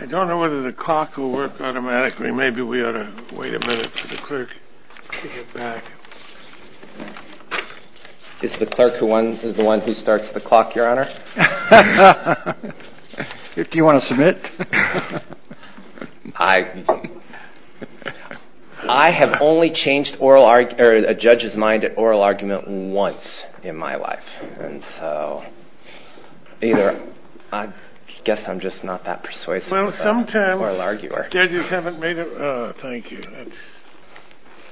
I don't know whether the clock will work automatically. Maybe we ought to wait a minute for the clerk to get back. Is the clerk the one who starts the clock, Your Honor? Do you want to submit? I have only changed a judge's mind at oral argument once in my life. I guess I'm just not that persuasive of an oral arguer.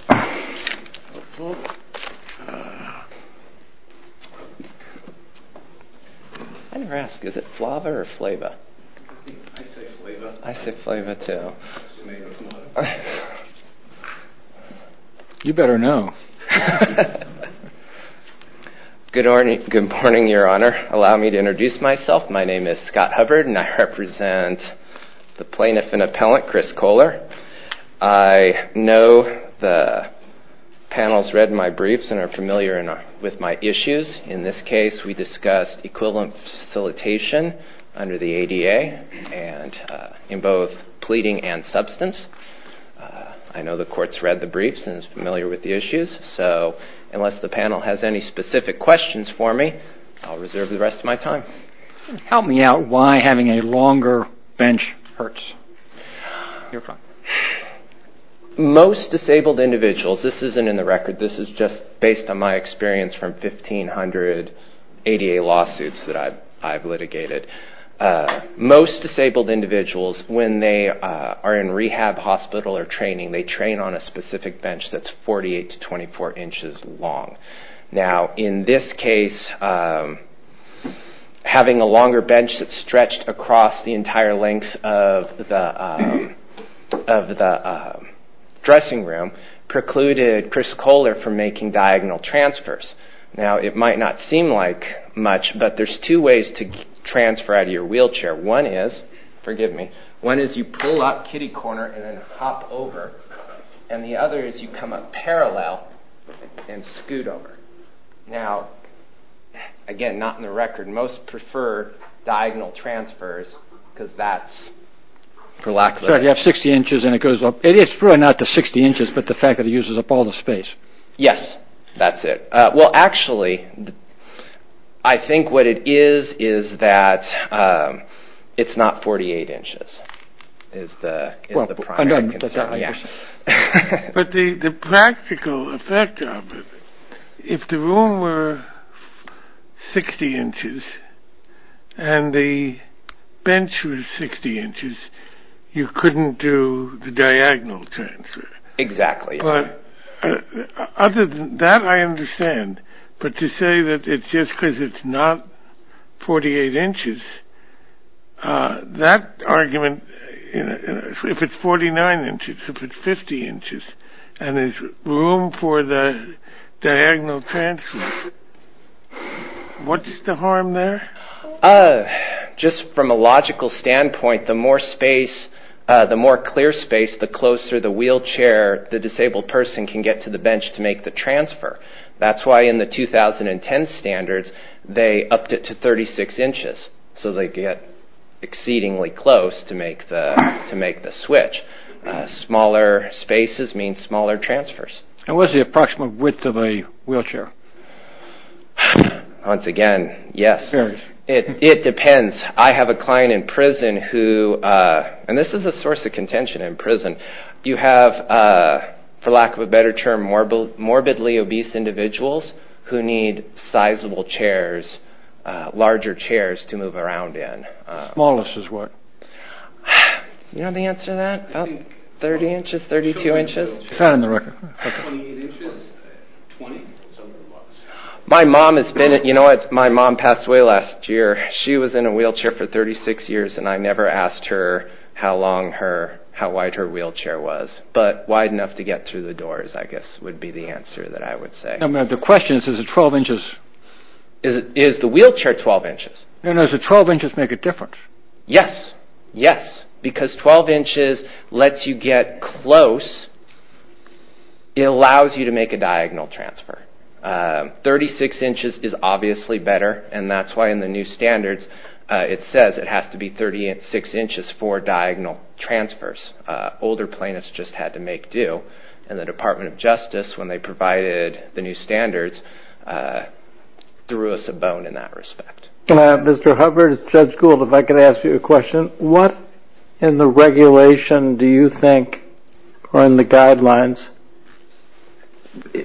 I never ask, is it Flava or Flava? I say Flava. I say Flava too. You better know. Good morning, Your Honor. Allow me to introduce myself. My name is Scott Hubbard and I represent the plaintiff and appellant, Chris Kohler. I know the panel's read my briefs and are familiar with my issues. In this case, we discussed equivalent facilitation under the ADA in both pleading and substance. I know the court's read the briefs and is familiar with the issues, so unless the panel has any specific questions for me, I'll reserve the rest of my time. Help me out why having a longer bench hurts. Most disabled individuals, this isn't in the record, this is just based on my experience from 1,500 ADA lawsuits that I've litigated. Most disabled individuals, when they are in rehab, hospital, or training, they train on a specific bench that's 48 to 24 inches long. Now, in this case, having a longer bench that's stretched across the entire length of the dressing room precluded Chris Kohler from making diagonal transfers. Now, it might not seem like much, but there's two ways to transfer out of your wheelchair. One is, forgive me, one is you pull up kitty corner and then hop over, and the other is you come up parallel and scoot over. Now, again, not in the record, most prefer diagonal transfers because that's for lack of a better word. You have 60 inches and it goes up. It is true, not the 60 inches, but the fact that it uses up all the space. Yes, that's it. Well, actually, I think what it is is that it's not 48 inches is the primary concern. But the practical effect of it, if the room were 60 inches and the bench was 60 inches, you couldn't do the diagonal transfer. Exactly. Other than that, I understand. But to say that it's just because it's not 48 inches, that argument, if it's 49 inches, if it's 50 inches and there's room for the diagonal transfer, what's the harm there? Just from a logical standpoint, the more space, the more clear space, the closer the wheelchair, the disabled person can get to the bench to make the transfer. That's why in the 2010 standards, they upped it to 36 inches, so they get exceedingly close to make the switch. Smaller spaces means smaller transfers. And what's the approximate width of a wheelchair? Once again, yes, it depends. I have a client in prison who, and this is a source of contention in prison, you have, for lack of a better term, morbidly obese individuals who need sizable chairs, larger chairs to move around in. Smallest is what? You know the answer to that? About 30 inches, 32 inches? It's not in the record. My mom has been, you know what, my mom passed away last year. She was in a wheelchair for 36 years and I never asked her how long her, how wide her wheelchair was. But wide enough to get through the doors, I guess, would be the answer that I would say. The question is, is the wheelchair 12 inches? No, no, does the 12 inches make a difference? Yes, yes, because 12 inches lets you get close, it allows you to make a diagonal transfer. 36 inches is obviously better, and that's why in the new standards it says it has to be 36 inches for diagonal transfers. Older plaintiffs just had to make do. And the Department of Justice, when they provided the new standards, threw us a bone in that respect. Mr. Hubbard, Judge Gould, if I could ask you a question. What in the regulation do you think, or in the guidelines,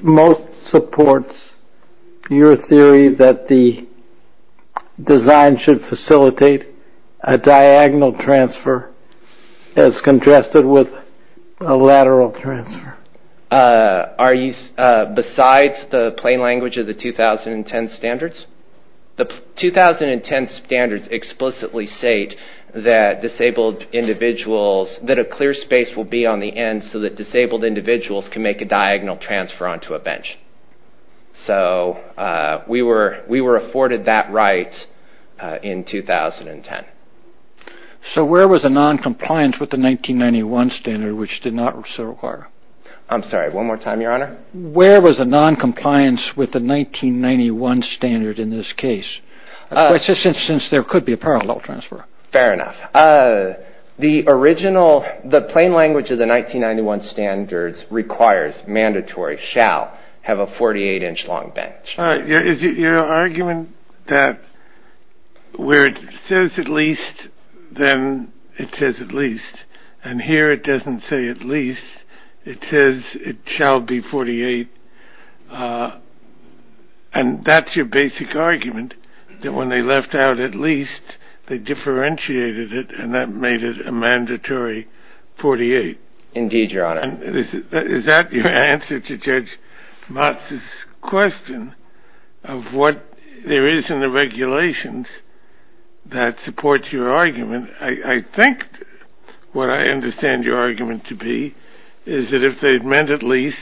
most supports your theory that the design should facilitate a diagonal transfer as contrasted with a lateral transfer? Besides the plain language of the 2010 standards? The 2010 standards explicitly state that disabled individuals, that a clear space will be on the end so that disabled individuals can make a diagonal transfer onto a bench. So we were afforded that right in 2010. So where was the non-compliance with the 1991 standard, which did not so require? I'm sorry, one more time, Your Honor? Where was the non-compliance with the 1991 standard in this case? Since there could be a parallel transfer. Fair enough. The original, the plain language of the 1991 standards requires, mandatory, shall have a 48 inch long bench. Is it your argument that where it says at least, then it says at least, and here it doesn't say at least, it says it shall be 48, and that's your basic argument, that when they left out at least, they differentiated it and that made it a mandatory 48? Indeed, Your Honor. And is that your answer to Judge Motz's question of what there is in the regulations that supports your argument? I think what I understand your argument to be is that if they had meant at least,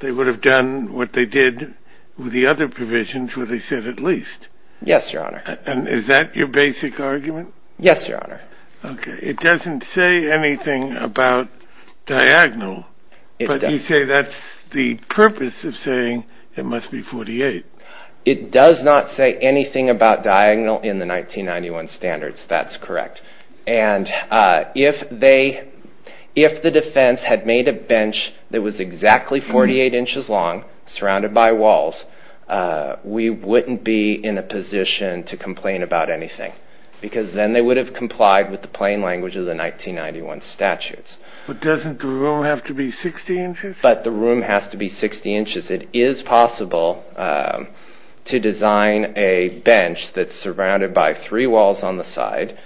they would have done what they did with the other provisions where they said at least. Yes, Your Honor. And is that your basic argument? Yes, Your Honor. Okay, it doesn't say anything about diagonal, but you say that's the purpose of saying it must be 48. It does not say anything about diagonal in the 1991 standards. That's correct. And if the defense had made a bench that was exactly 48 inches long, surrounded by walls, we wouldn't be in a position to complain about anything, because then they would have complied with the plain language of the 1991 statutes. But doesn't the room have to be 60 inches? But the room has to be 60 inches. It is possible to design a bench that's surrounded by three walls on the side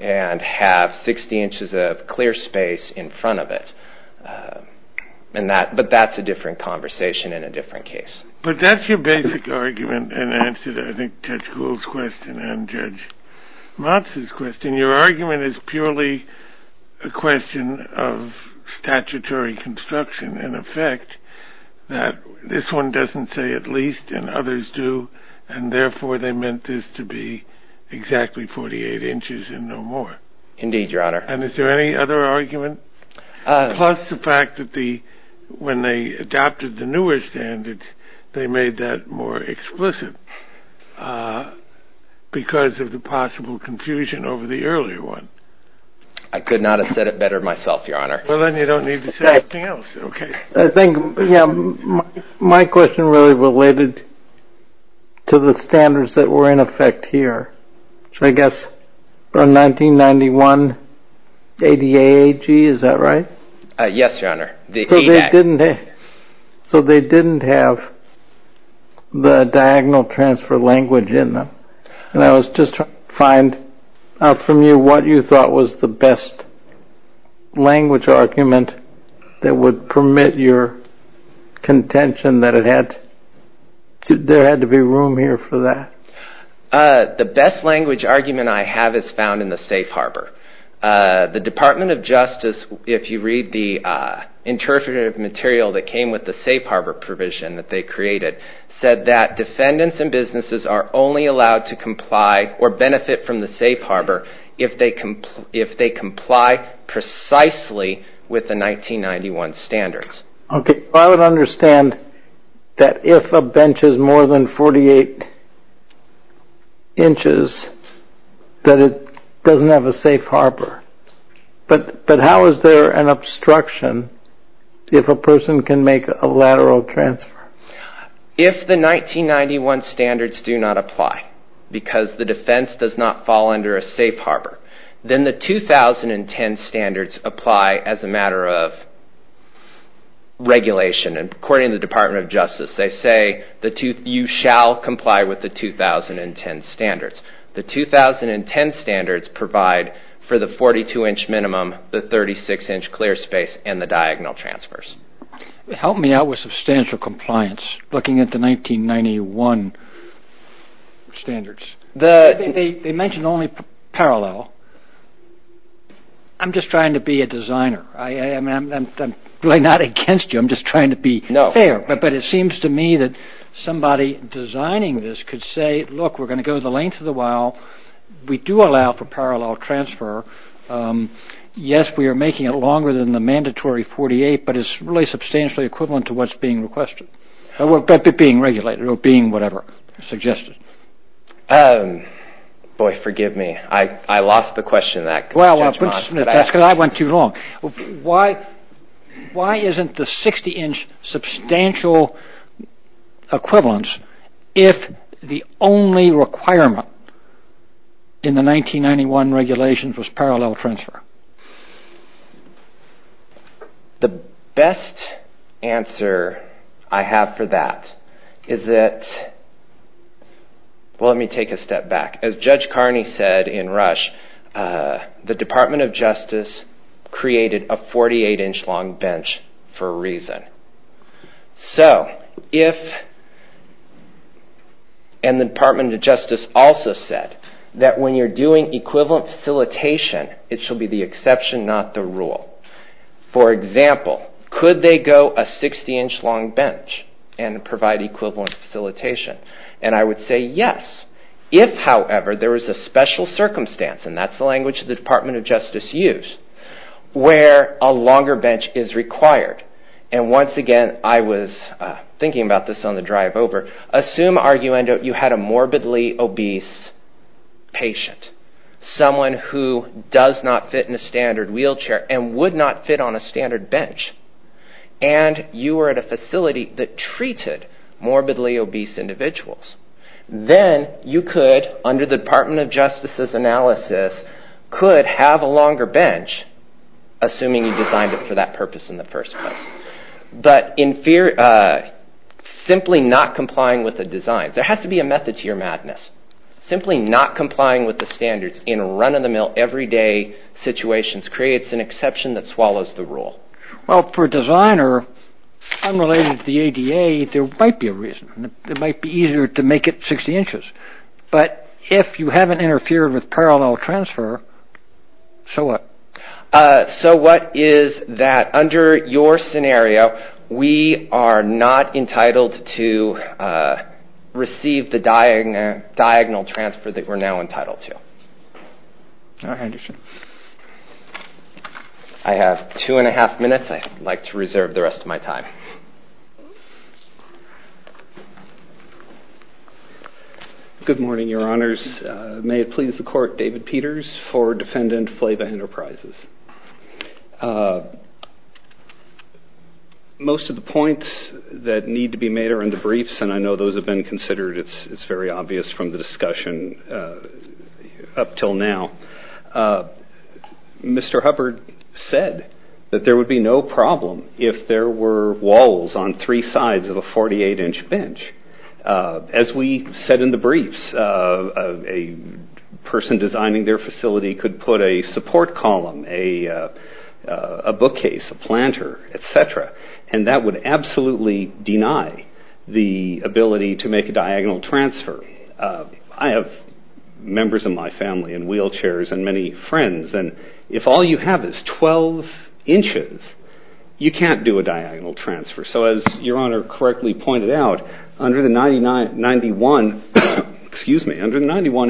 and have 60 inches of clear space in front of it, but that's a different conversation and a different case. But that's your basic argument and answer to, I think, Judge Gould's question and Judge Motz's question. Your argument is purely a question of statutory construction and effect, that this one doesn't say at least and others do, and therefore they meant this to be exactly 48 inches and no more. Indeed, Your Honor. And is there any other argument? Plus the fact that when they adopted the newer standards, they made that more explicit because of the possible confusion over the earlier one. I could not have said it better myself, Your Honor. Well, then you don't need to say anything else. Okay. I think my question really related to the standards that were in effect here. I guess from 1991, ADA AG, is that right? Yes, Your Honor. So they didn't have the diagonal transfer language in them. And I was just trying to find out from you what you thought was the best language argument that would permit your contention that there had to be room here for that. The best language argument I have is found in the safe harbor. The Department of Justice, if you read the interpretive material that came with the safe harbor provision that they created, said that defendants and businesses are only allowed to comply or benefit from the safe harbor if they comply precisely with the 1991 standards. Okay. I would understand that if a bench is more than 48 inches, that it doesn't have a safe harbor. But how is there an obstruction if a person can make a lateral transfer? If the 1991 standards do not apply because the defense does not fall under a safe harbor, then the 2010 standards apply as a matter of regulation. And according to the Department of Justice, they say you shall comply with the 2010 standards. The 2010 standards provide for the 42-inch minimum, the 36-inch clear space, and the diagonal transfers. Help me out with substantial compliance, looking at the 1991 standards. They mention only parallel. I'm just trying to be a designer. I'm really not against you. I'm just trying to be fair. But it seems to me that somebody designing this could say, look, we're going to go the length of the while. We do allow for parallel transfer. Yes, we are making it longer than the mandatory 48, but it's really substantially equivalent to what's being requested, being regulated or being whatever suggested. Boy, forgive me. I lost the question. Well, that's because I went too long. Why isn't the 60-inch substantial equivalence if the only requirement in the 1991 regulations was parallel transfer? The best answer I have for that is that, well, let me take a step back. As Judge Carney said in Rush, the Department of Justice created a 48-inch long bench for a reason. And the Department of Justice also said that when you're doing equivalent facilitation, it should be the exception, not the rule. For example, could they go a 60-inch long bench and provide equivalent facilitation? And I would say yes, if, however, there was a special circumstance, and that's the language the Department of Justice used, where a longer bench is required. And once again, I was thinking about this on the drive over. Assume, arguendo, you had a morbidly obese patient, someone who does not fit in a standard wheelchair and would not fit on a standard bench, and you were at a facility that treated morbidly obese individuals. Then you could, under the Department of Justice's analysis, could have a longer bench, assuming you designed it for that purpose in the first place. But simply not complying with the design. There has to be a method to your madness. Simply not complying with the standards in run-of-the-mill, everyday situations creates an exception that swallows the rule. Well, for a designer, unrelated to the ADA, there might be a reason. It might be easier to make it 60 inches. But if you haven't interfered with parallel transfer, so what? So what is that? Under your scenario, we are not entitled to receive the diagonal transfer that we're now entitled to. All right. I have two and a half minutes. I'd like to reserve the rest of my time. Good morning, Your Honors. May it please the Court, David Peters for Defendant Flava Enterprises. Most of the points that need to be made are in the briefs, and I know those have been considered. It's very obvious from the discussion up until now. Mr. Hubbard said that there would be no problem if there were walls on three sides of a 48-inch bench. As we said in the briefs, a person designing their facility could put a support column, a bookcase, a planter, etc., and that would absolutely deny the ability to make a diagonal transfer. I have members of my family in wheelchairs and many friends, and if all you have is 12 inches, you can't do a diagonal transfer. So as Your Honor correctly pointed out, under the 91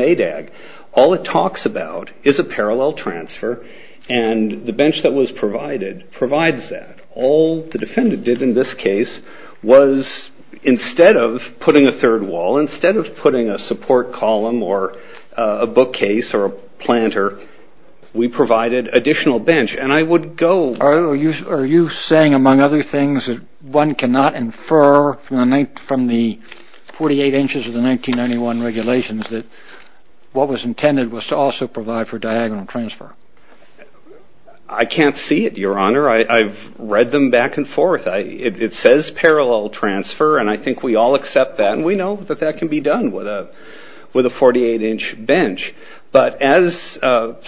ADAG, all it talks about is a parallel transfer, and the bench that was provided provides that. All the defendant did in this case was instead of putting a third wall, instead of putting a support column or a bookcase or a planter, we provided additional bench. Are you saying, among other things, that one cannot infer from the 48 inches of the 1991 regulations that what was intended was to also provide for diagonal transfer? I can't see it, Your Honor. I've read them back and forth. It says parallel transfer, and I think we all accept that, and we know that that can be done with a 48-inch bench. But as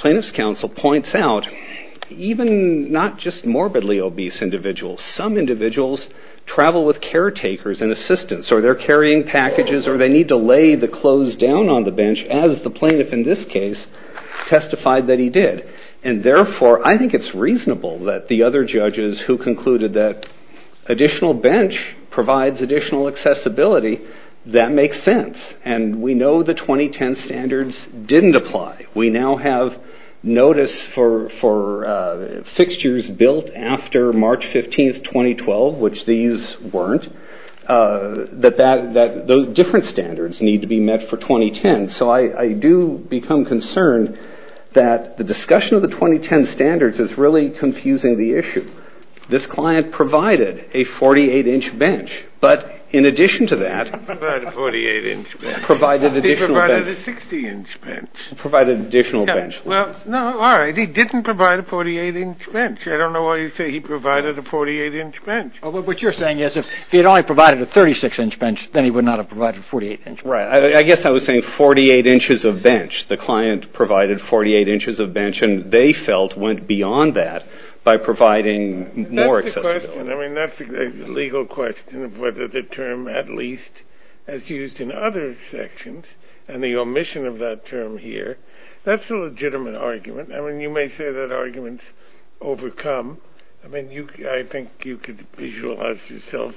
plaintiff's counsel points out, even not just morbidly obese individuals, some individuals travel with caretakers and assistants, or they're carrying packages, or they need to lay the clothes down on the bench, as the plaintiff in this case testified that he did. And therefore, I think it's reasonable that the other judges who concluded that additional bench provides additional accessibility, that makes sense, and we know the 2010 standards didn't apply. We now have notice for fixtures built after March 15, 2012, which these weren't, that different standards need to be met for 2010. So I do become concerned that the discussion of the 2010 standards is really confusing the issue. This client provided a 48-inch bench, but in addition to that, he did not provide a 48-inch bench. He provided an additional bench. He provided a 60-inch bench. He provided an additional bench. Well, no, all right, he didn't provide a 48-inch bench. I don't know why you say he provided a 48-inch bench. What you're saying is if he had only provided a 36-inch bench, then he would not have provided a 48-inch bench. Right. I guess I was saying 48 inches of bench. The client provided 48 inches of bench, and they felt went beyond that by providing more accessibility. That's a good question. I mean, that's a legal question of whether the term at least as used in other sections and the omission of that term here, that's a legitimate argument. I mean, you may say that arguments overcome. I mean, I think you could visualize yourself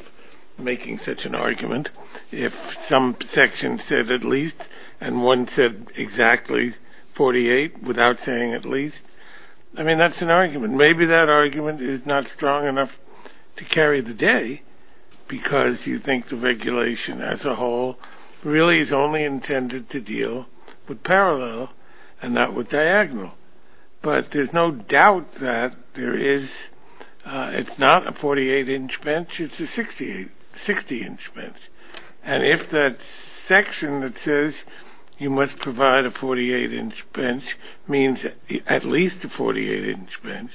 making such an argument if some section said at least and one said exactly 48 without saying at least. I mean, that's an argument. And maybe that argument is not strong enough to carry the day because you think the regulation as a whole really is only intended to deal with parallel and not with diagonal. But there's no doubt that there is. It's not a 48-inch bench. It's a 60-inch bench. And if that section that says you must provide a 48-inch bench means at least a 48-inch bench,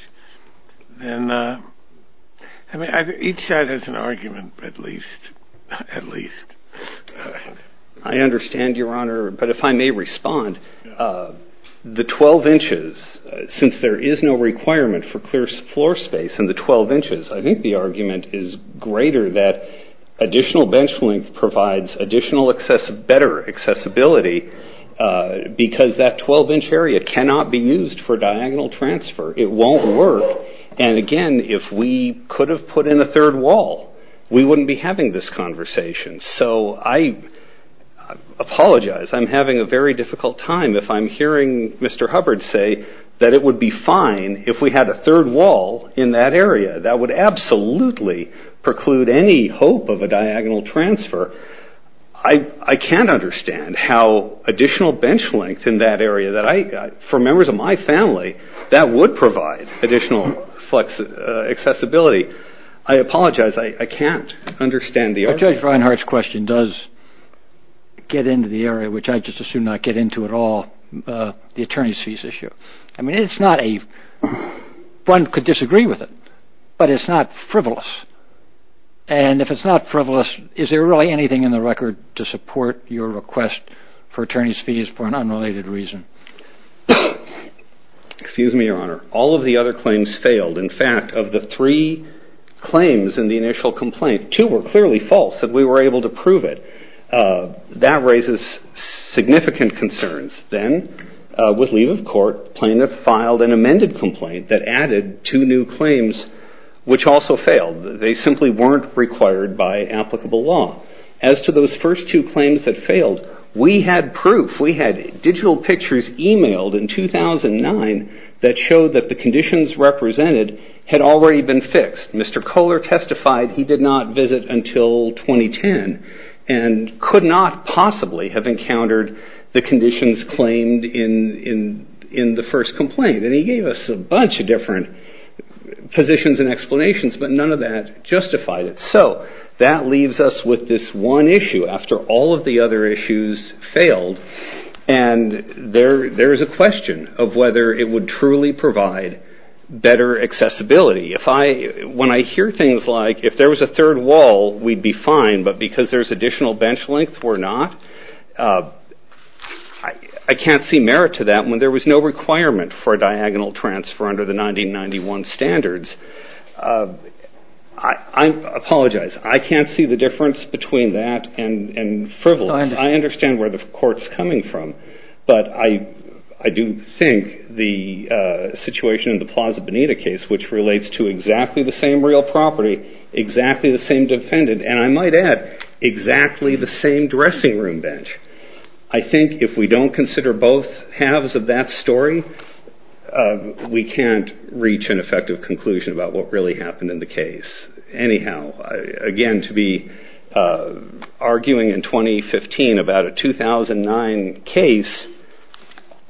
then each side has an argument at least. I understand, Your Honor, but if I may respond, the 12 inches, since there is no requirement for clear floor space in the 12 inches, I think the argument is greater that additional bench length provides additional better accessibility because that 12-inch area cannot be used for diagonal transfer. It won't work. And again, if we could have put in a third wall, we wouldn't be having this conversation. So I apologize. I'm having a very difficult time if I'm hearing Mr. Hubbard say that it would be fine if we had a third wall in that area. That would absolutely preclude any hope of a diagonal transfer. I can't understand how additional bench length in that area, for members of my family, that would provide additional accessibility. I apologize. I can't understand the argument. Judge Reinhart's question does get into the area, which I just assume not get into at all, the attorneys' fees issue. I mean, it's not a one could disagree with it, but it's not frivolous. And if it's not frivolous, is there really anything in the record to support your request for attorneys' fees for an unrelated reason? Excuse me, Your Honor. All of the other claims failed. In fact, of the three claims in the initial complaint, two were clearly false that we were able to prove it. That raises significant concerns. Then, with leave of court, plaintiff filed an amended complaint that added two new claims, which also failed. They simply weren't required by applicable law. As to those first two claims that failed, we had proof. We had digital pictures emailed in 2009 that showed that the conditions represented had already been fixed. Mr. Kohler testified he did not visit until 2010 and could not possibly have encountered the conditions claimed in the first complaint. And he gave us a bunch of different positions and explanations, but none of that justified it. So, that leaves us with this one issue. After all of the other issues failed, and there is a question of whether it would truly provide better accessibility. When I hear things like, if there was a third wall, we'd be fine, but because there's additional bench length, we're not? I can't see merit to that when there was no requirement for a diagonal transfer under the 1991 standards. I apologize. I can't see the difference between that and frivolous. I understand where the court's coming from. But I do think the situation in the Plaza Bonita case, which relates to exactly the same real property, exactly the same defendant, and I might add, exactly the same dressing room bench. I think if we don't consider both halves of that story, we can't reach an effective conclusion about what really happened in the case. Anyhow, again, to be arguing in 2015 about a 2009 case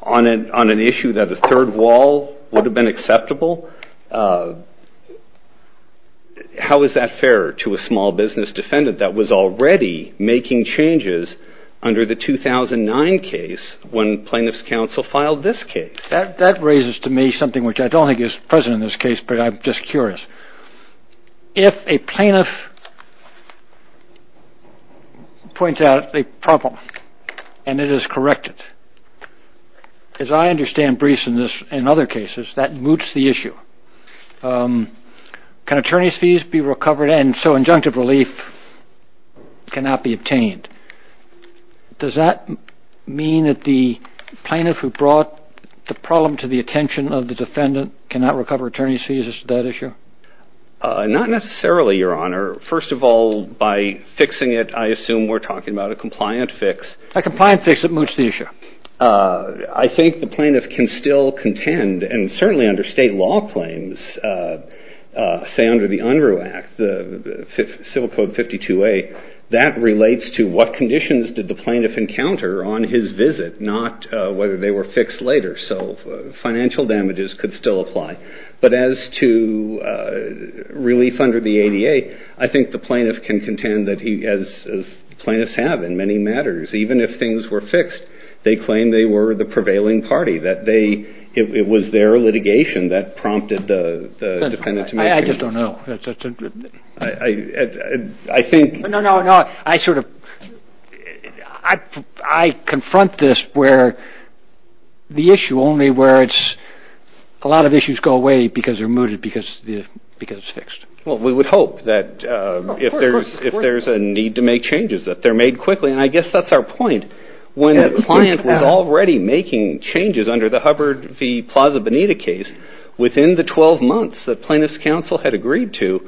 on an issue that a third wall would have been acceptable. How is that fair to a small business defendant that was already making changes under the 2009 case when plaintiff's counsel filed this case? That raises to me something which I don't think is present in this case, but I'm just curious. If a plaintiff points out a problem and it is corrected, as I understand briefs in other cases, that moots the issue. Can attorney's fees be recovered? And so injunctive relief cannot be obtained. Does that mean that the plaintiff who brought the problem to the attention of the defendant cannot recover attorney's fees as to that issue? Not necessarily, Your Honor. First of all, by fixing it, I assume we're talking about a compliant fix. A compliant fix that moots the issue. I think the plaintiff can still contend, and certainly under state law claims, say under the Unruh Act, the Civil Code 52A, that relates to what conditions did the plaintiff encounter on his visit, not whether they were fixed later. So financial damages could still apply. But as to relief under the ADA, I think the plaintiff can contend that he, as plaintiffs have in many matters, even if things were fixed, they claim they were the prevailing party, that it was their litigation that prompted the defendant to make changes. I just don't know. No, no, no. I confront this where the issue, only where it's a lot of issues go away because they're mooted, because it's fixed. Well, we would hope that if there's a need to make changes, that they're made quickly. And I guess that's our point. When the client was already making changes under the Hubbard v. Plaza Benita case, within the 12 months that plaintiff's counsel had agreed to,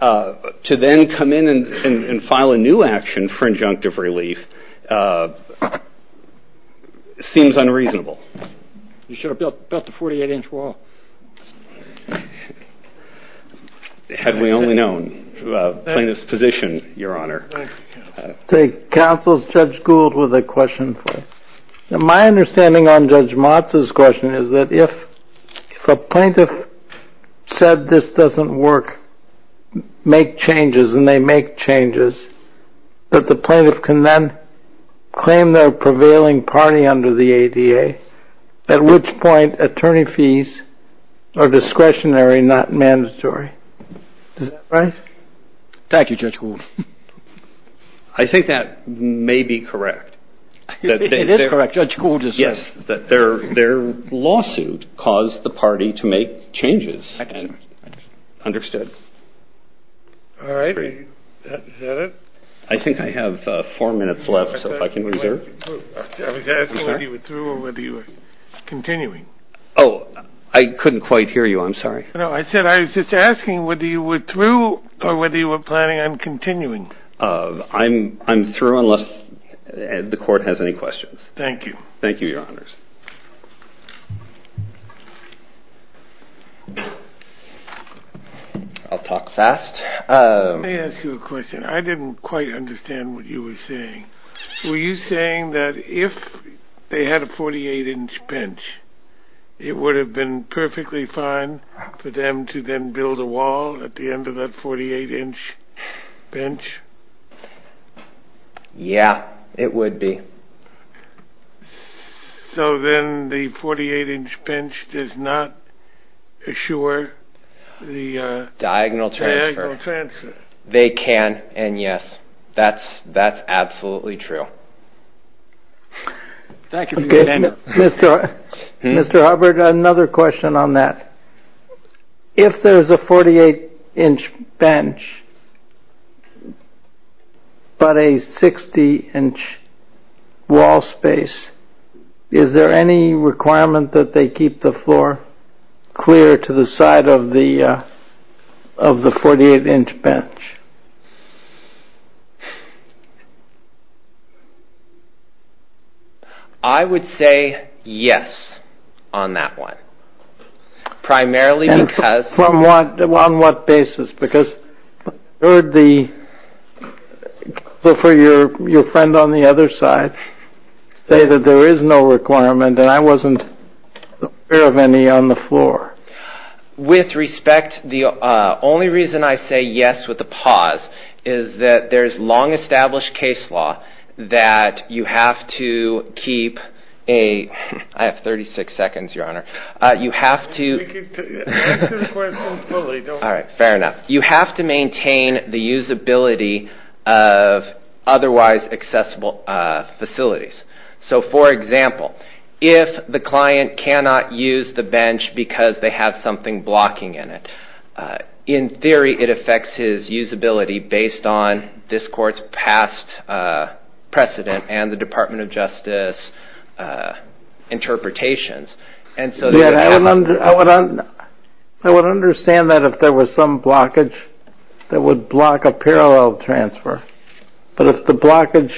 to then come in and file a new action for injunctive relief seems unreasonable. You should have built a 48-inch wall. Had we only known plaintiff's position, Your Honor. Counsel, Judge Gould with a question for you. My understanding on Judge Motz's question is that if a plaintiff said this doesn't work, make changes, and they make changes, that the plaintiff can then claim they're a prevailing party under the ADA, at which point attorney fees are discretionary, not mandatory. Is that right? Thank you, Judge Gould. I think that may be correct. It is correct. Judge Gould is right. Yes, that their lawsuit caused the party to make changes. Understood. All right. Is that it? I think I have four minutes left, so if I can reserve. I was asking whether you withdrew or whether you were continuing. Oh, I couldn't quite hear you. I'm sorry. No, I said I was just asking whether you withdrew or whether you were planning on continuing. I'm through unless the court has any questions. Thank you, Your Honors. I'll talk fast. Let me ask you a question. I didn't quite understand what you were saying. Were you saying that if they had a 48-inch bench, it would have been perfectly fine for them to then build a wall at the end of that 48-inch bench? Yeah, it would be. So then the 48-inch bench does not assure the diagonal transfer? They can, and yes, that's absolutely true. Thank you. Mr. Hubbard, another question on that. If there's a 48-inch bench but a 60-inch wall space, is there any requirement that they keep the floor clear to the side of the 48-inch bench? I would say yes on that one. Primarily because... On what basis? Because I heard your friend on the other side say that there is no requirement, and I wasn't aware of any on the floor. With respect, the only reason I say yes with a pause is that there's long-established case law that you have to keep a... I have 36 seconds, Your Honor. All right, fair enough. You have to maintain the usability of otherwise accessible facilities. So for example, if the client cannot use the bench because they have something blocking in it, in theory it affects his usability based on this court's past precedent and the Department of Justice interpretations. I would understand that if there was some blockage that would block a parallel transfer, but if the blockage,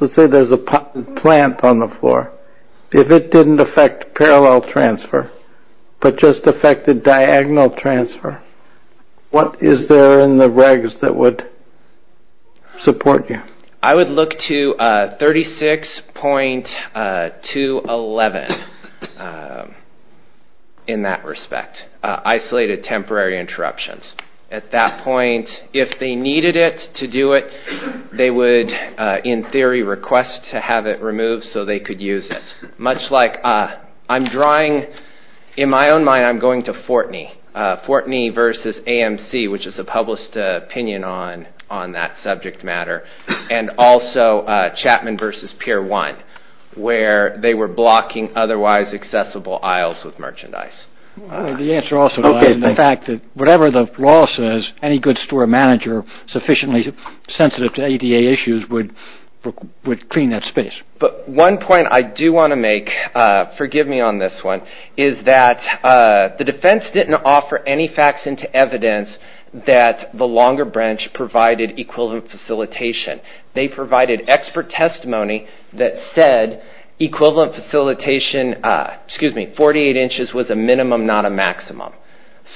let's say there's a plant on the floor, if it didn't affect parallel transfer but just affected diagonal transfer, what is there in the regs that would support you? I would look to 36.211 in that respect, isolated temporary interruptions. At that point, if they needed it to do it, they would, in theory, request to have it removed so they could use it. Much like I'm drawing, in my own mind, I'm going to Fortney. Fortney versus AMC, which is a published opinion on that subject matter, and also Chapman versus Pier 1, where they were blocking otherwise accessible aisles with merchandise. The answer also lies in the fact that whatever the law says, any good store manager sufficiently sensitive to ADA issues would clean that space. But one point I do want to make, forgive me on this one, is that the defense didn't offer any facts into evidence that the longer branch provided equivalent facilitation. They provided expert testimony that said equivalent facilitation, excuse me, 48 inches was a minimum, not a maximum.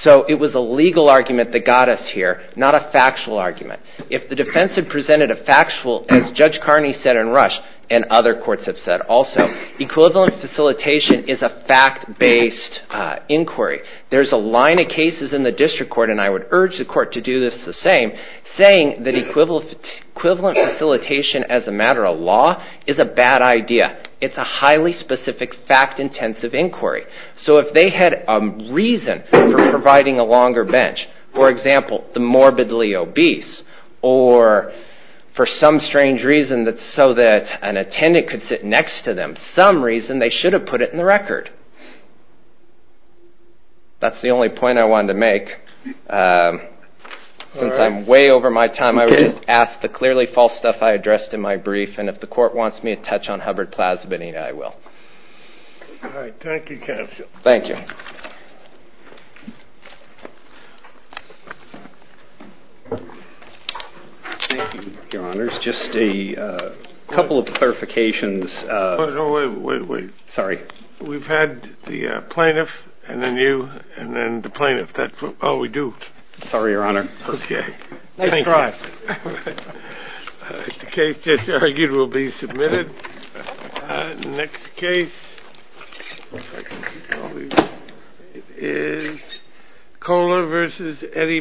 So it was a legal argument that got us here, not a factual argument. If the defense had presented a factual, as Judge Carney said in Rush, and other courts have said also, equivalent facilitation is a fact-based inquiry. There's a line of cases in the district court, and I would urge the court to do this the same, saying that equivalent facilitation as a matter of law is a bad idea. It's a highly specific fact-intensive inquiry. So if they had a reason for providing a longer bench, for example, the morbidly obese, or for some strange reason so that an attendant could sit next to them, some reason they should have put it in the record. That's the only point I wanted to make. Since I'm way over my time, I would just ask the clearly false stuff I addressed in my brief, and if the court wants me to touch on Hubbard-Plaza Benita, I will. All right. Thank you, counsel. Thank you. Thank you, Your Honors. Just a couple of clarifications. Wait, wait, wait. Sorry. We've had the plaintiff, and then you, and then the plaintiff. Oh, we do. Sorry, Your Honor. Okay. Nice try. The case just argued will be submitted. The next case is Kohler v. Eddie Bauer.